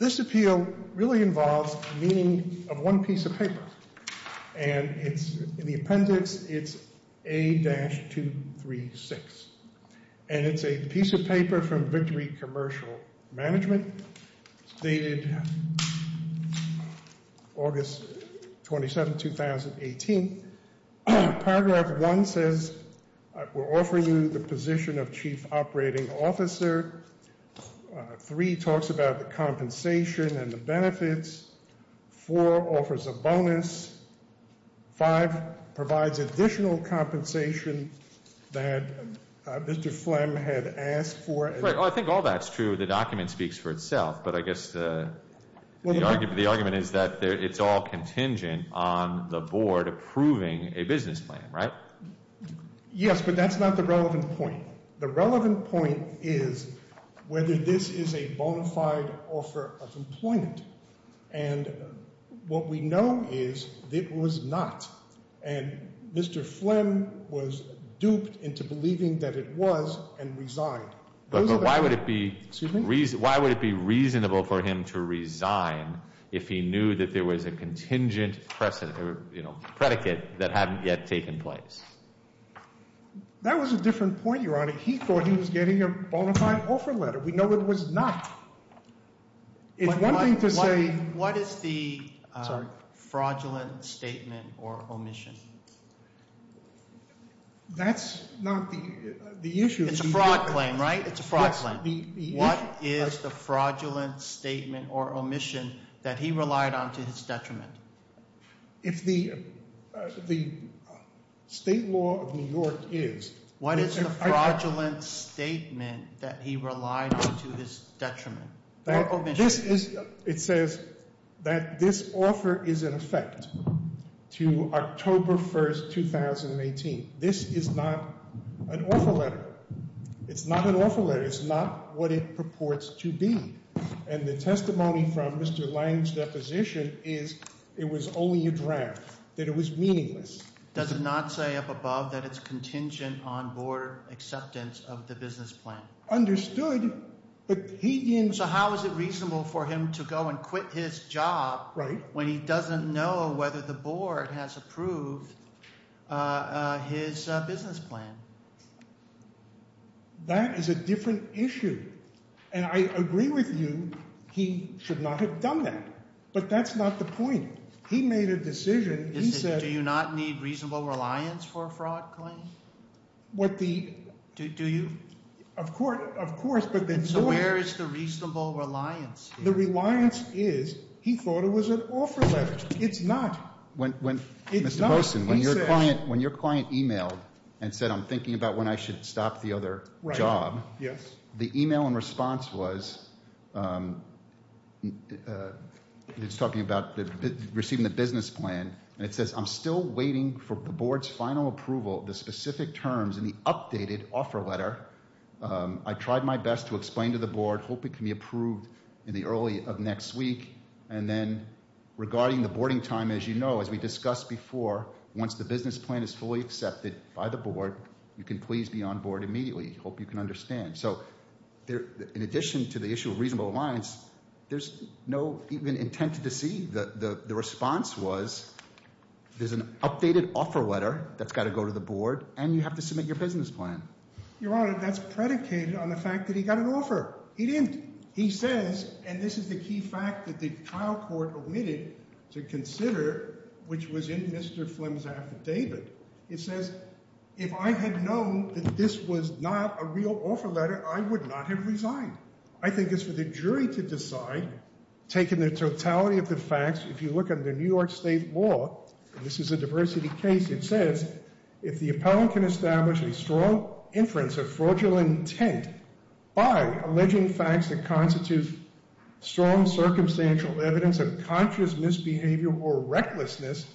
This appeal really involves the meaning of one piece of paper. And in the appendix it's A-236. And it's a piece of paper from Victory Commercial Management. It's dated August 27, 2018. Paragraph 1 says we're offering you the position of Chief Operating Officer. 3 talks about the compensation and the benefits. 4 offers a bonus. 5 provides additional compensation that Mr. Flemm had asked for. I think all that's true. The document speaks for itself. But I guess the argument is that it's all contingent on the board approving a business plan, right? Yes, but that's not the relevant point. The relevant point is whether this is a bona fide offer of employment. And what we know is it was not. And Mr. Flemm was duped into believing that it was and resigned. But why would it be reasonable for him to resign if he knew that there was a contingent predicate that hadn't yet taken place? That was a different point, Your Honor. He thought he was getting a bona fide offer letter. We know it was not. What is the fraudulent statement or omission? That's not the issue. It's a fraud claim, right? It's a fraud claim. What is the fraudulent statement or omission that he relied on to his detriment? If the state law of New York is. What is the fraudulent statement that he relied on to his detriment? It says that this offer is in effect to October 1st, 2018. This is not an offer letter. It's not an offer letter. It's not what it purports to be. And the testimony from Mr. Lang's deposition is it was only a draft, that it was meaningless. Does it not say up above that it's contingent on board acceptance of the business plan? Understood, but he didn't. So how is it reasonable for him to go and quit his job when he doesn't know whether the board has approved his business plan? That is a different issue. And I agree with you, he should not have done that. But that's not the point. He made a decision. Do you not need reasonable reliance for a fraud claim? Of course. So where is the reasonable reliance? The reliance is he thought it was an offer letter. It's not. Mr. Boson, when your client emailed and said I'm thinking about when I should stop the other job. The email in response was, it's talking about receiving the business plan. And it says I'm still waiting for the board's final approval of the specific terms in the updated offer letter. I tried my best to explain to the board, hope it can be approved in the early of next week. And then regarding the boarding time, as you know, as we discussed before, once the business plan is fully accepted by the board, you can please be on board immediately. Hope you can understand. So in addition to the issue of reasonable reliance, there's no even intent to deceive. The response was there's an updated offer letter that's got to go to the board and you have to submit your business plan. Your Honor, that's predicated on the fact that he got an offer. He didn't. He says, and this is the key fact that the trial court omitted to consider, which was in Mr. Flim's affidavit. It says if I had known that this was not a real offer letter, I would not have resigned. I think it's for the jury to decide, taking the totality of the facts. If you look at the New York State law, this is a diversity case. It says if the appellant can establish a strong inference of fraudulent intent by alleging facts that constitute strong circumstantial evidence of conscious misbehavior or recklessness,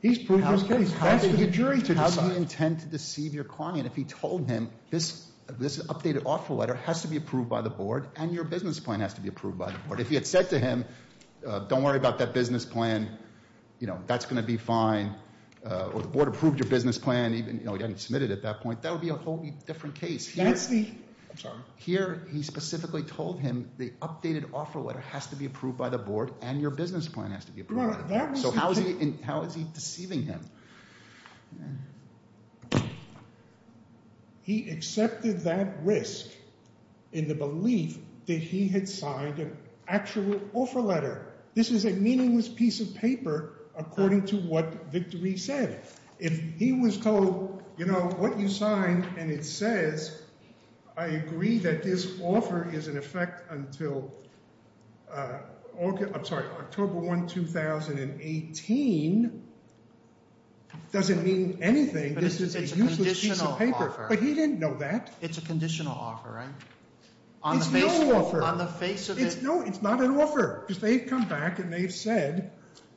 he's proved his case. Does he intend to deceive your client if he told him this updated offer letter has to be approved by the board and your business plan has to be approved by the board? If he had said to him, don't worry about that business plan, that's going to be fine, or the board approved your business plan, even though he hadn't submitted it at that point, that would be a whole different case. Here he specifically told him the updated offer letter has to be approved by the board and your business plan has to be approved by the board. So how is he deceiving him? He accepted that risk in the belief that he had signed an actual offer letter. This is a meaningless piece of paper according to what Victory said. If he was told, you know, what you signed and it says, I agree that this offer is in effect until – I'm sorry, October 1, 2018, doesn't mean anything. This is a useless piece of paper. But he didn't know that. It's a conditional offer, right? It's no offer. On the face of it – No, it's not an offer because they've come back and they've said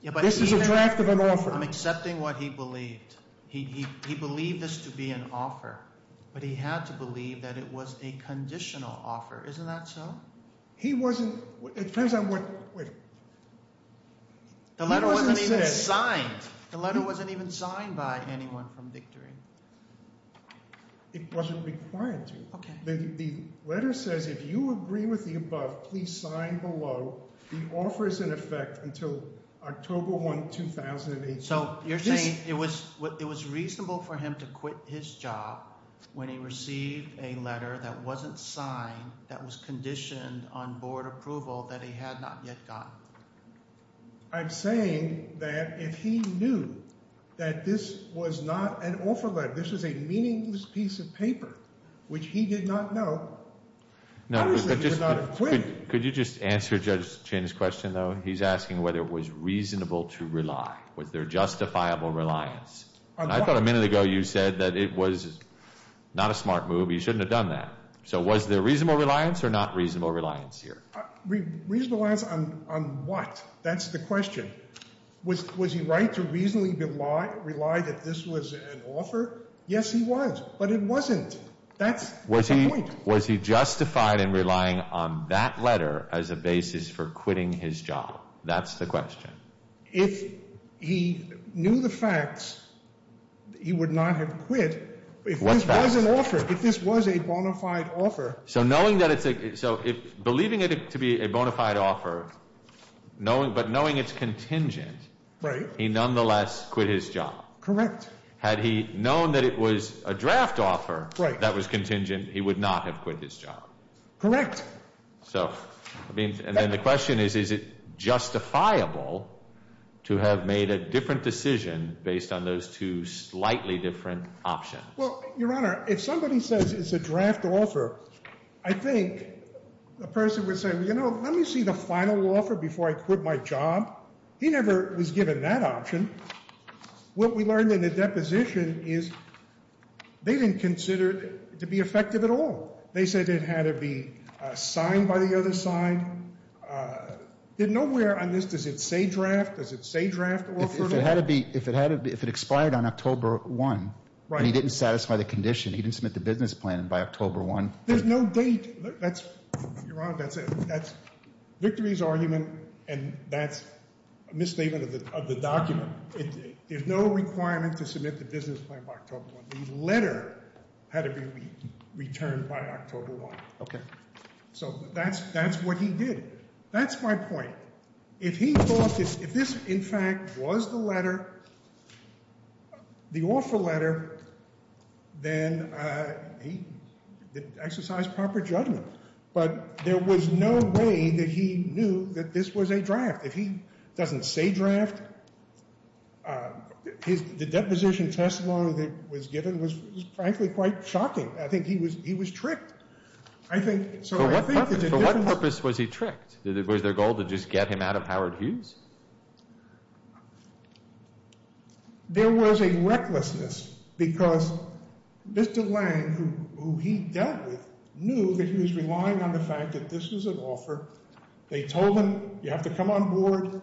this is a draft of an offer. I'm accepting what he believed. He believed this to be an offer, but he had to believe that it was a conditional offer. Isn't that so? He wasn't – it depends on what – wait. The letter wasn't even signed. The letter wasn't even signed by anyone from Victory. It wasn't required to. Okay. The letter says if you agree with the above, please sign below. The offer is in effect until October 1, 2018. So you're saying it was reasonable for him to quit his job when he received a letter that wasn't signed that was conditioned on board approval that he had not yet gotten? I'm saying that if he knew that this was not an offer letter, this was a meaningless piece of paper, which he did not know, obviously he would not have quit. Could you just answer Judge Chin's question, though? He's asking whether it was reasonable to rely. Was there justifiable reliance? I thought a minute ago you said that it was not a smart move. He shouldn't have done that. So was there reasonable reliance or not reasonable reliance here? Reasonable reliance on what? That's the question. Was he right to reasonably rely that this was an offer? Yes, he was. But it wasn't. That's the point. Was he justified in relying on that letter as a basis for quitting his job? That's the question. If he knew the facts, he would not have quit. What facts? If this was an offer, if this was a bona fide offer. So believing it to be a bona fide offer, but knowing it's contingent, he nonetheless quit his job. Correct. Had he known that it was a draft offer that was contingent, he would not have quit his job. Correct. And then the question is, is it justifiable to have made a different decision based on those two slightly different options? Well, Your Honor, if somebody says it's a draft offer, I think the person would say, you know, let me see the final offer before I quit my job. He never was given that option. What we learned in the deposition is they didn't consider it to be effective at all. They said it had to be signed by the other side. Nowhere on this does it say draft. Does it say draft offer? If it expired on October 1 and he didn't satisfy the condition, he didn't submit the business plan by October 1? There's no date. That's, Your Honor, that's Victory's argument, and that's a misstatement of the document. There's no requirement to submit the business plan by October 1. The letter had to be returned by October 1. Okay. So that's what he did. That's my point. If he thought that if this, in fact, was the letter, the offer letter, then he exercised proper judgment. But there was no way that he knew that this was a draft. If he doesn't say draft, the deposition testimony that was given was frankly quite shocking. I think he was tricked. For what purpose was he tricked? Was their goal to just get him out of Howard Hughes? There was a recklessness because Mr. Lange, who he dealt with, knew that he was relying on the fact that this was an offer. They told him you have to come on board.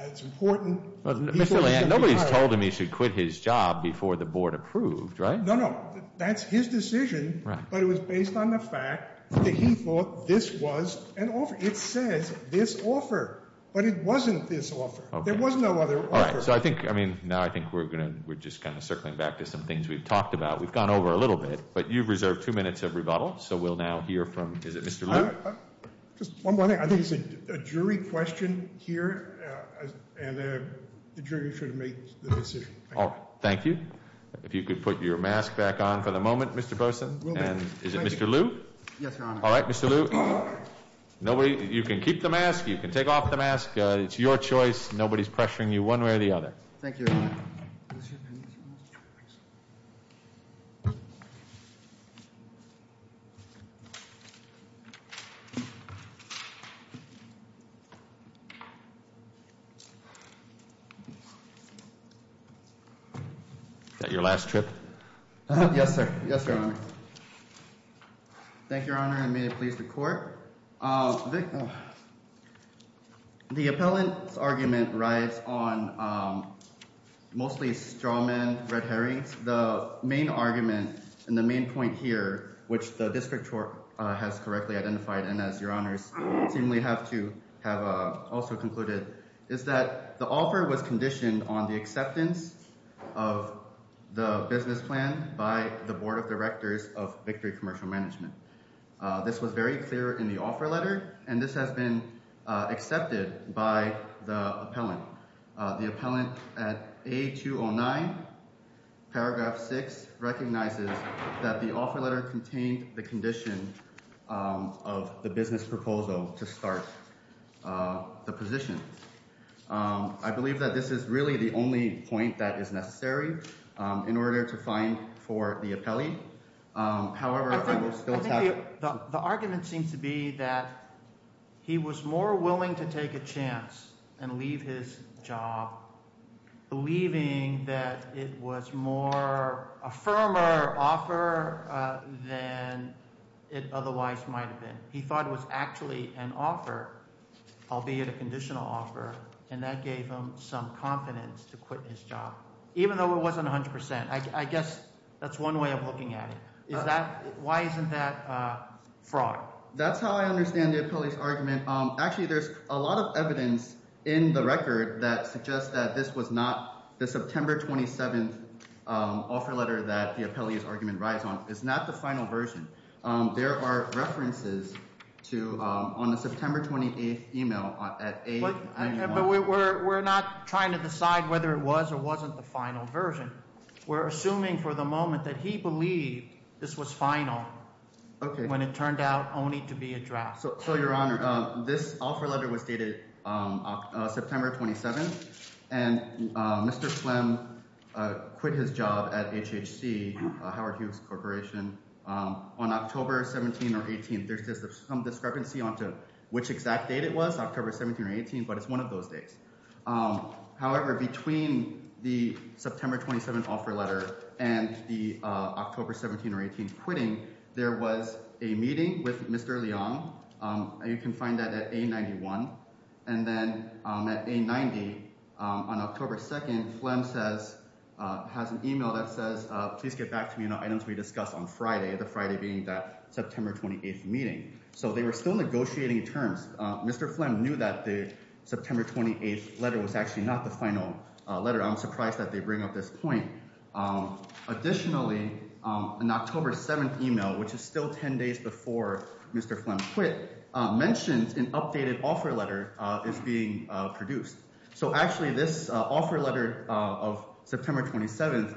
It's important. Mr. Lange, nobody's told him he should quit his job before the board approved, right? No, no. That's his decision, but it was based on the fact that he thought this was an offer. It says this offer, but it wasn't this offer. There was no other offer. All right. So I think, I mean, now I think we're just kind of circling back to some things we've talked about. We've gone over a little bit, but you've reserved two minutes of rebuttal, so we'll now hear from, is it Mr. Luke? Just one more thing. I think it's a jury question here, and the jury should make the decision. Thank you. If you could put your mask back on for the moment, Mr. Burson, and is it Mr. Luke? Yes, Your Honor. All right, Mr. Luke. You can keep the mask. You can take off the mask. It's your choice. Nobody's pressuring you one way or the other. Thank you, Your Honor. Is that your last trip? Yes, sir. Yes, Your Honor. Thank you, Your Honor, and may it please the Court. The appellant's argument rides on mostly Strawman-Red Herring. The main argument and the main point here, which the district court has correctly identified and as Your Honors seemingly have to have also concluded, is that the offer was conditioned on the acceptance of the business plan by the Board of Directors of Victory Commercial Management. This was very clear in the offer letter, and this has been accepted by the appellant. The appellant at A209, paragraph 6, recognizes that the offer letter contained the condition of the business proposal to start the position. I believe that this is really the only point that is necessary in order to find for the appellee. I think the argument seems to be that he was more willing to take a chance and leave his job, believing that it was more a firmer offer than it otherwise might have been. He thought it was actually an offer, albeit a conditional offer, and that gave him some confidence to quit his job, even though it wasn't 100%. I guess that's one way of looking at it. Why isn't that a fraud? That's how I understand the appellee's argument. Actually, there's a lot of evidence in the record that suggests that this was not the September 27 offer letter that the appellee's argument rides on. It's not the final version. There are references on the September 28 email at A209. But we're not trying to decide whether it was or wasn't the final version. We're assuming for the moment that he believed this was final when it turned out only to be a draft. So, Your Honor, this offer letter was dated September 27, and Mr. Flemm quit his job at HHC, Howard Hughes Corporation, on October 17 or 18. There's some discrepancy on which exact date it was, October 17 or 18, but it's one of those days. However, between the September 27 offer letter and the October 17 or 18 quitting, there was a meeting with Mr. Leong. You can find that at A91. And then at A90, on October 2, Flemm has an email that says, please get back to me on the items we discussed on Friday, the Friday being that September 28 meeting. So they were still negotiating terms. Mr. Flemm knew that the September 28 letter was actually not the final letter. I'm surprised that they bring up this point. Additionally, an October 7 email, which is still 10 days before Mr. Flemm quit, mentions an updated offer letter is being produced. So actually this offer letter of September 27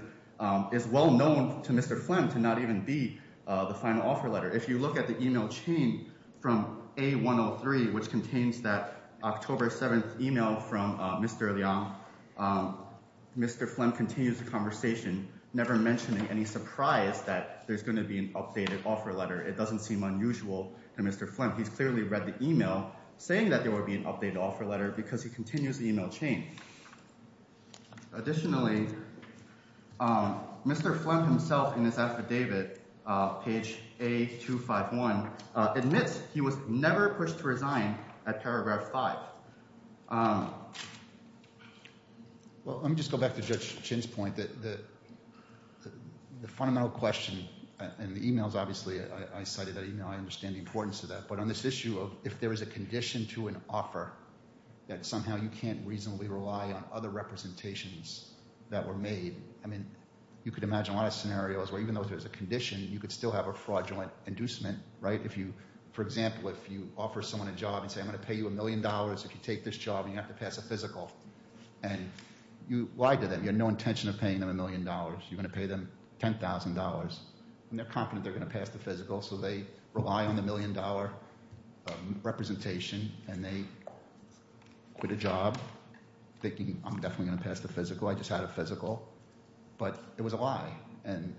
is well known to Mr. Flemm to not even be the final offer letter. If you look at the email chain from A103, which contains that October 7 email from Mr. Leong, Mr. Flemm continues the conversation, never mentioning any surprise that there's going to be an updated offer letter. It doesn't seem unusual to Mr. Flemm. He's clearly read the email saying that there would be an updated offer letter because he continues the email chain. Additionally, Mr. Flemm himself in his affidavit, page A251, admits he was never pushed to resign at paragraph 5. Well, let me just go back to Judge Chin's point that the fundamental question in the emails, obviously, I cited that email. I understand the importance of that. But on this issue of if there is a condition to an offer that somehow you can't reasonably rely on other representations that were made, I mean, you could imagine a lot of scenarios where even though there's a condition, you could still have a fraudulent inducement, right? If you, for example, if you offer someone a job and say, I'm going to pay you a million dollars if you take this job and you have to pass a physical. And you lied to them. You had no intention of paying them a million dollars. You're going to pay them $10,000. And they're confident they're going to pass the physical, so they rely on the million dollar representation. And they quit a job thinking, I'm definitely going to pass the physical. I just had a physical. But it was a lie and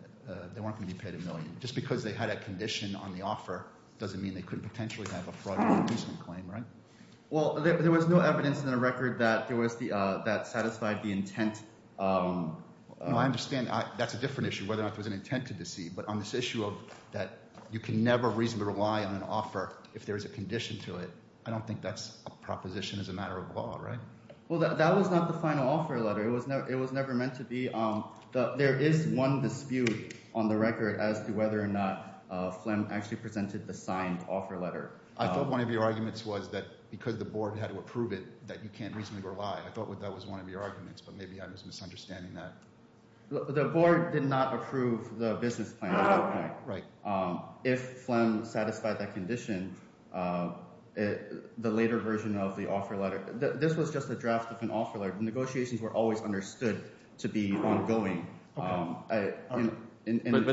they weren't going to be paid a million. Just because they had a condition on the offer doesn't mean they couldn't potentially have a fraudulent inducement claim, right? Well, there was no evidence in the record that there was the – that satisfied the intent. I understand that's a different issue whether or not there was an intent to deceive. But on this issue of that you can never reasonably rely on an offer if there is a condition to it, I don't think that's a proposition as a matter of law, right? Well, that was not the final offer letter. It was never meant to be. There is one dispute on the record as to whether or not Phlegm actually presented the signed offer letter. I thought one of your arguments was that because the board had to approve it that you can't reasonably rely. I thought that was one of your arguments, but maybe I was misunderstanding that. The board did not approve the business plan at that point. If Phlegm satisfied that condition, the later version of the offer letter – this was just a draft of an offer letter. The negotiations were always understood to be ongoing. But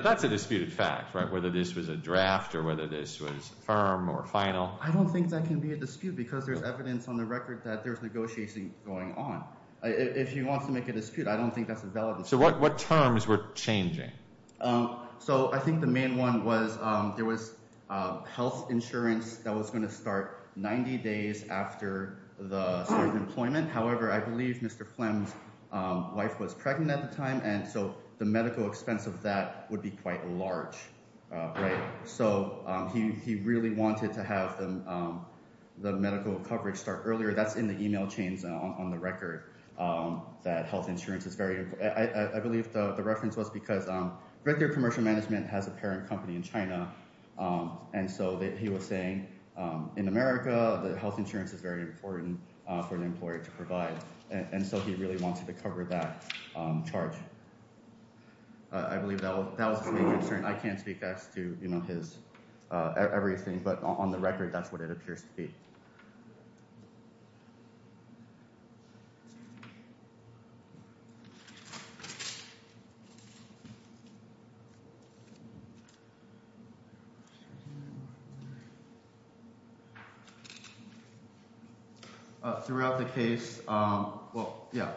that's a disputed fact, right, whether this was a draft or whether this was firm or final. I don't think that can be a dispute because there's evidence on the record that there's negotiating going on. If you want to make a dispute, I don't think that's a valid dispute. So what terms were changing? So I think the main one was there was health insurance that was going to start 90 days after the start of employment. However, I believe Mr. Phlegm's wife was pregnant at the time, and so the medical expense of that would be quite large. So he really wanted to have the medical coverage start earlier. That's in the email chains on the record that health insurance is very – I believe the reference was because Red Deer Commercial Management has a parent company in China, and so he was saying in America that health insurance is very important for an employer to provide. And so he really wanted to cover that charge. I believe that was the main concern. I can't speak to his everything, but on the record, that's what it appears to be. Thank you. Throughout the case – well, yeah.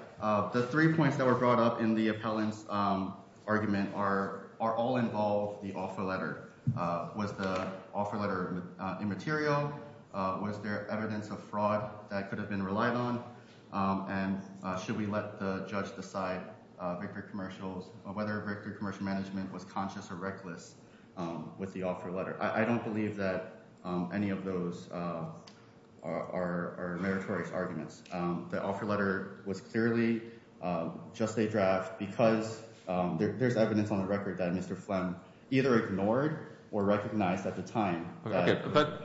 The three points that were brought up in the appellant's argument are all involved the offer letter. Was the offer letter immaterial? Was there evidence of fraud that could have been relied on? And should we let the judge decide whether Red Deer Commercial Management was conscious or reckless with the offer letter? I don't believe that any of those are meritorious arguments. The offer letter was clearly just a draft because there's evidence on the record that Mr. Phlegm either ignored or recognized at the time. Okay, but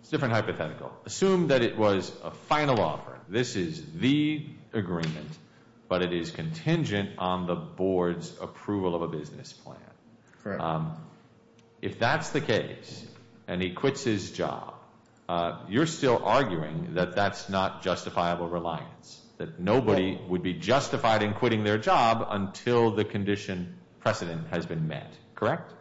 it's a different hypothetical. Assume that it was a final offer. This is the agreement, but it is contingent on the board's approval of a business plan. Correct. If that's the case and he quits his job, you're still arguing that that's not justifiable reliance, that nobody would be justified in quitting their job until the condition precedent has been met, correct?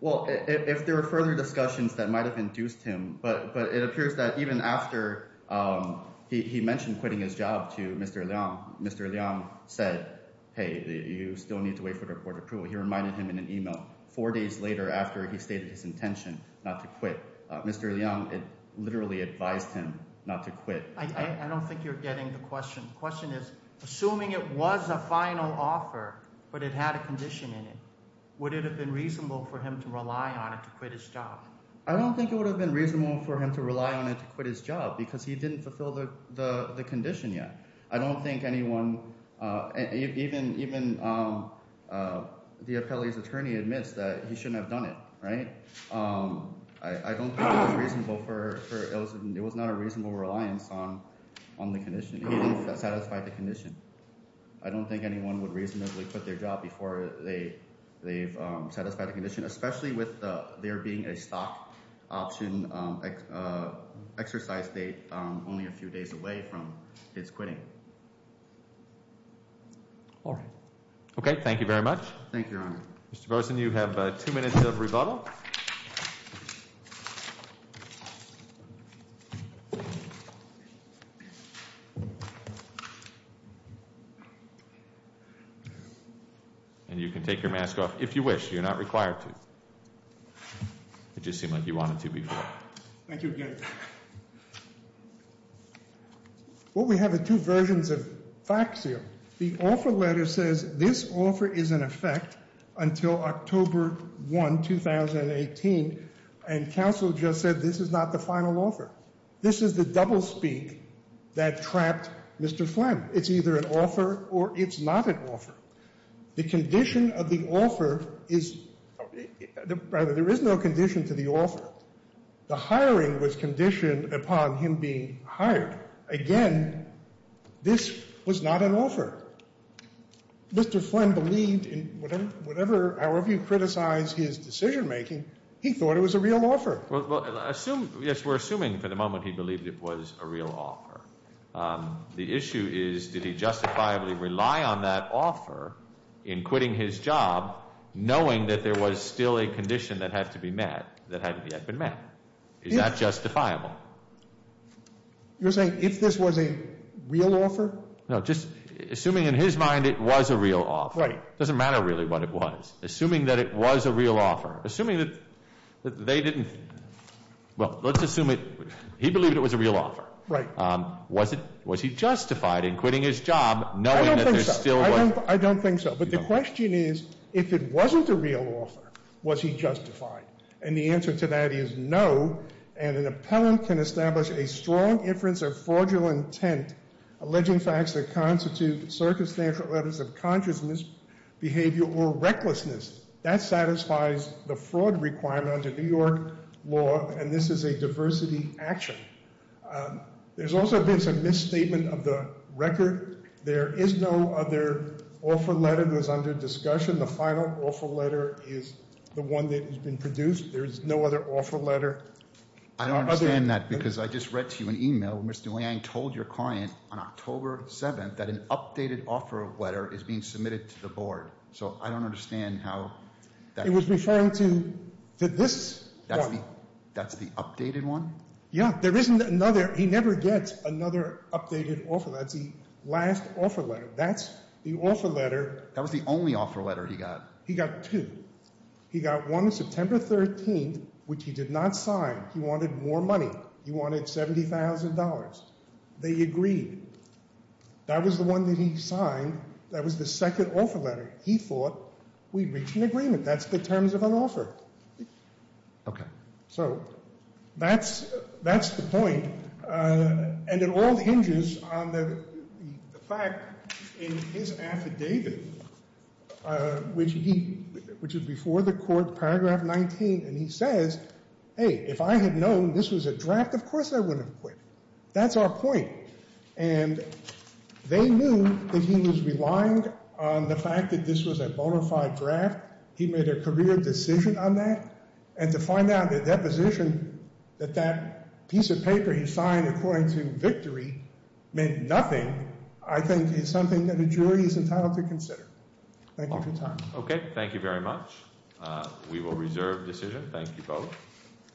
Well, if there are further discussions that might have induced him, but it appears that even after he mentioned quitting his job to Mr. Leong, Mr. Leong said, hey, you still need to wait for the board approval. He reminded him in an email four days later after he stated his intention not to quit. Mr. Leong, it literally advised him not to quit. I don't think you're getting the question. The question is, assuming it was a final offer but it had a condition in it, would it have been reasonable for him to rely on it to quit his job? I don't think it would have been reasonable for him to rely on it to quit his job because he didn't fulfill the condition yet. I don't think anyone – even the appellee's attorney admits that he shouldn't have done it, right? I don't think it was reasonable for – it was not a reasonable reliance on the condition. It didn't satisfy the condition. I don't think anyone would reasonably quit their job before they've satisfied the condition, especially with there being a stock option exercise date only a few days away from his quitting. All right. Okay. Thank you very much. Thank you, Your Honor. Mr. Berson, you have two minutes of rebuttal. And you can take your mask off if you wish. You're not required to. It just seemed like you wanted to before. Thank you again. What we have are two versions of facts here. The offer letter says this offer is in effect until October 1, 2018. And counsel just said this is not the final offer. This is the doublespeak that trapped Mr. Flem. It's either an offer or it's not an offer. The condition of the offer is – rather, there is no condition to the offer. The hiring was conditioned upon him being hired. Again, this was not an offer. Mr. Flem believed in whatever – however you criticize his decision-making, he thought it was a real offer. Well, assume – yes, we're assuming for the moment he believed it was a real offer. The issue is did he justifiably rely on that offer in quitting his job, knowing that there was still a condition that had to be met that hadn't yet been met? Is that justifiable? You're saying if this was a real offer? No, just assuming in his mind it was a real offer. Right. It doesn't matter really what it was. Assuming that it was a real offer. Assuming that they didn't – well, let's assume he believed it was a real offer. Right. Was he justified in quitting his job knowing that there still was – I don't think so. But the question is if it wasn't a real offer, was he justified? And the answer to that is no. And an appellant can establish a strong inference of fraudulent intent, alleging facts that constitute circumstantial errors of consciousness, behavior, or recklessness. That satisfies the fraud requirement under New York law, and this is a diversity action. There's also been some misstatement of the record. There is no other offer letter that was under discussion. The final offer letter is the one that has been produced. There is no other offer letter. I don't understand that because I just read to you an e-mail. Mr. Liang told your client on October 7th that an updated offer letter is being submitted to the board. So I don't understand how that – It was referring to this one. That's the updated one? Yeah. There isn't another. He never gets another updated offer. That's the last offer letter. That's the offer letter. That was the only offer letter he got. He got two. He got one September 13th, which he did not sign. He wanted more money. He wanted $70,000. They agreed. That was the one that he signed. That was the second offer letter. He thought we'd reached an agreement. That's the terms of an offer. Okay. So that's the point. And it all hinges on the fact in his affidavit, which is before the court, paragraph 19, and he says, hey, if I had known this was a draft, of course I wouldn't have quit. That's our point. And they knew that he was relying on the fact that this was a bona fide draft. He made a career decision on that. And to find out the deposition that that piece of paper he signed according to victory meant nothing, I think is something that a jury is entitled to consider. Thank you for your time. Okay. Thank you very much. We will reserve decision. Thank you both.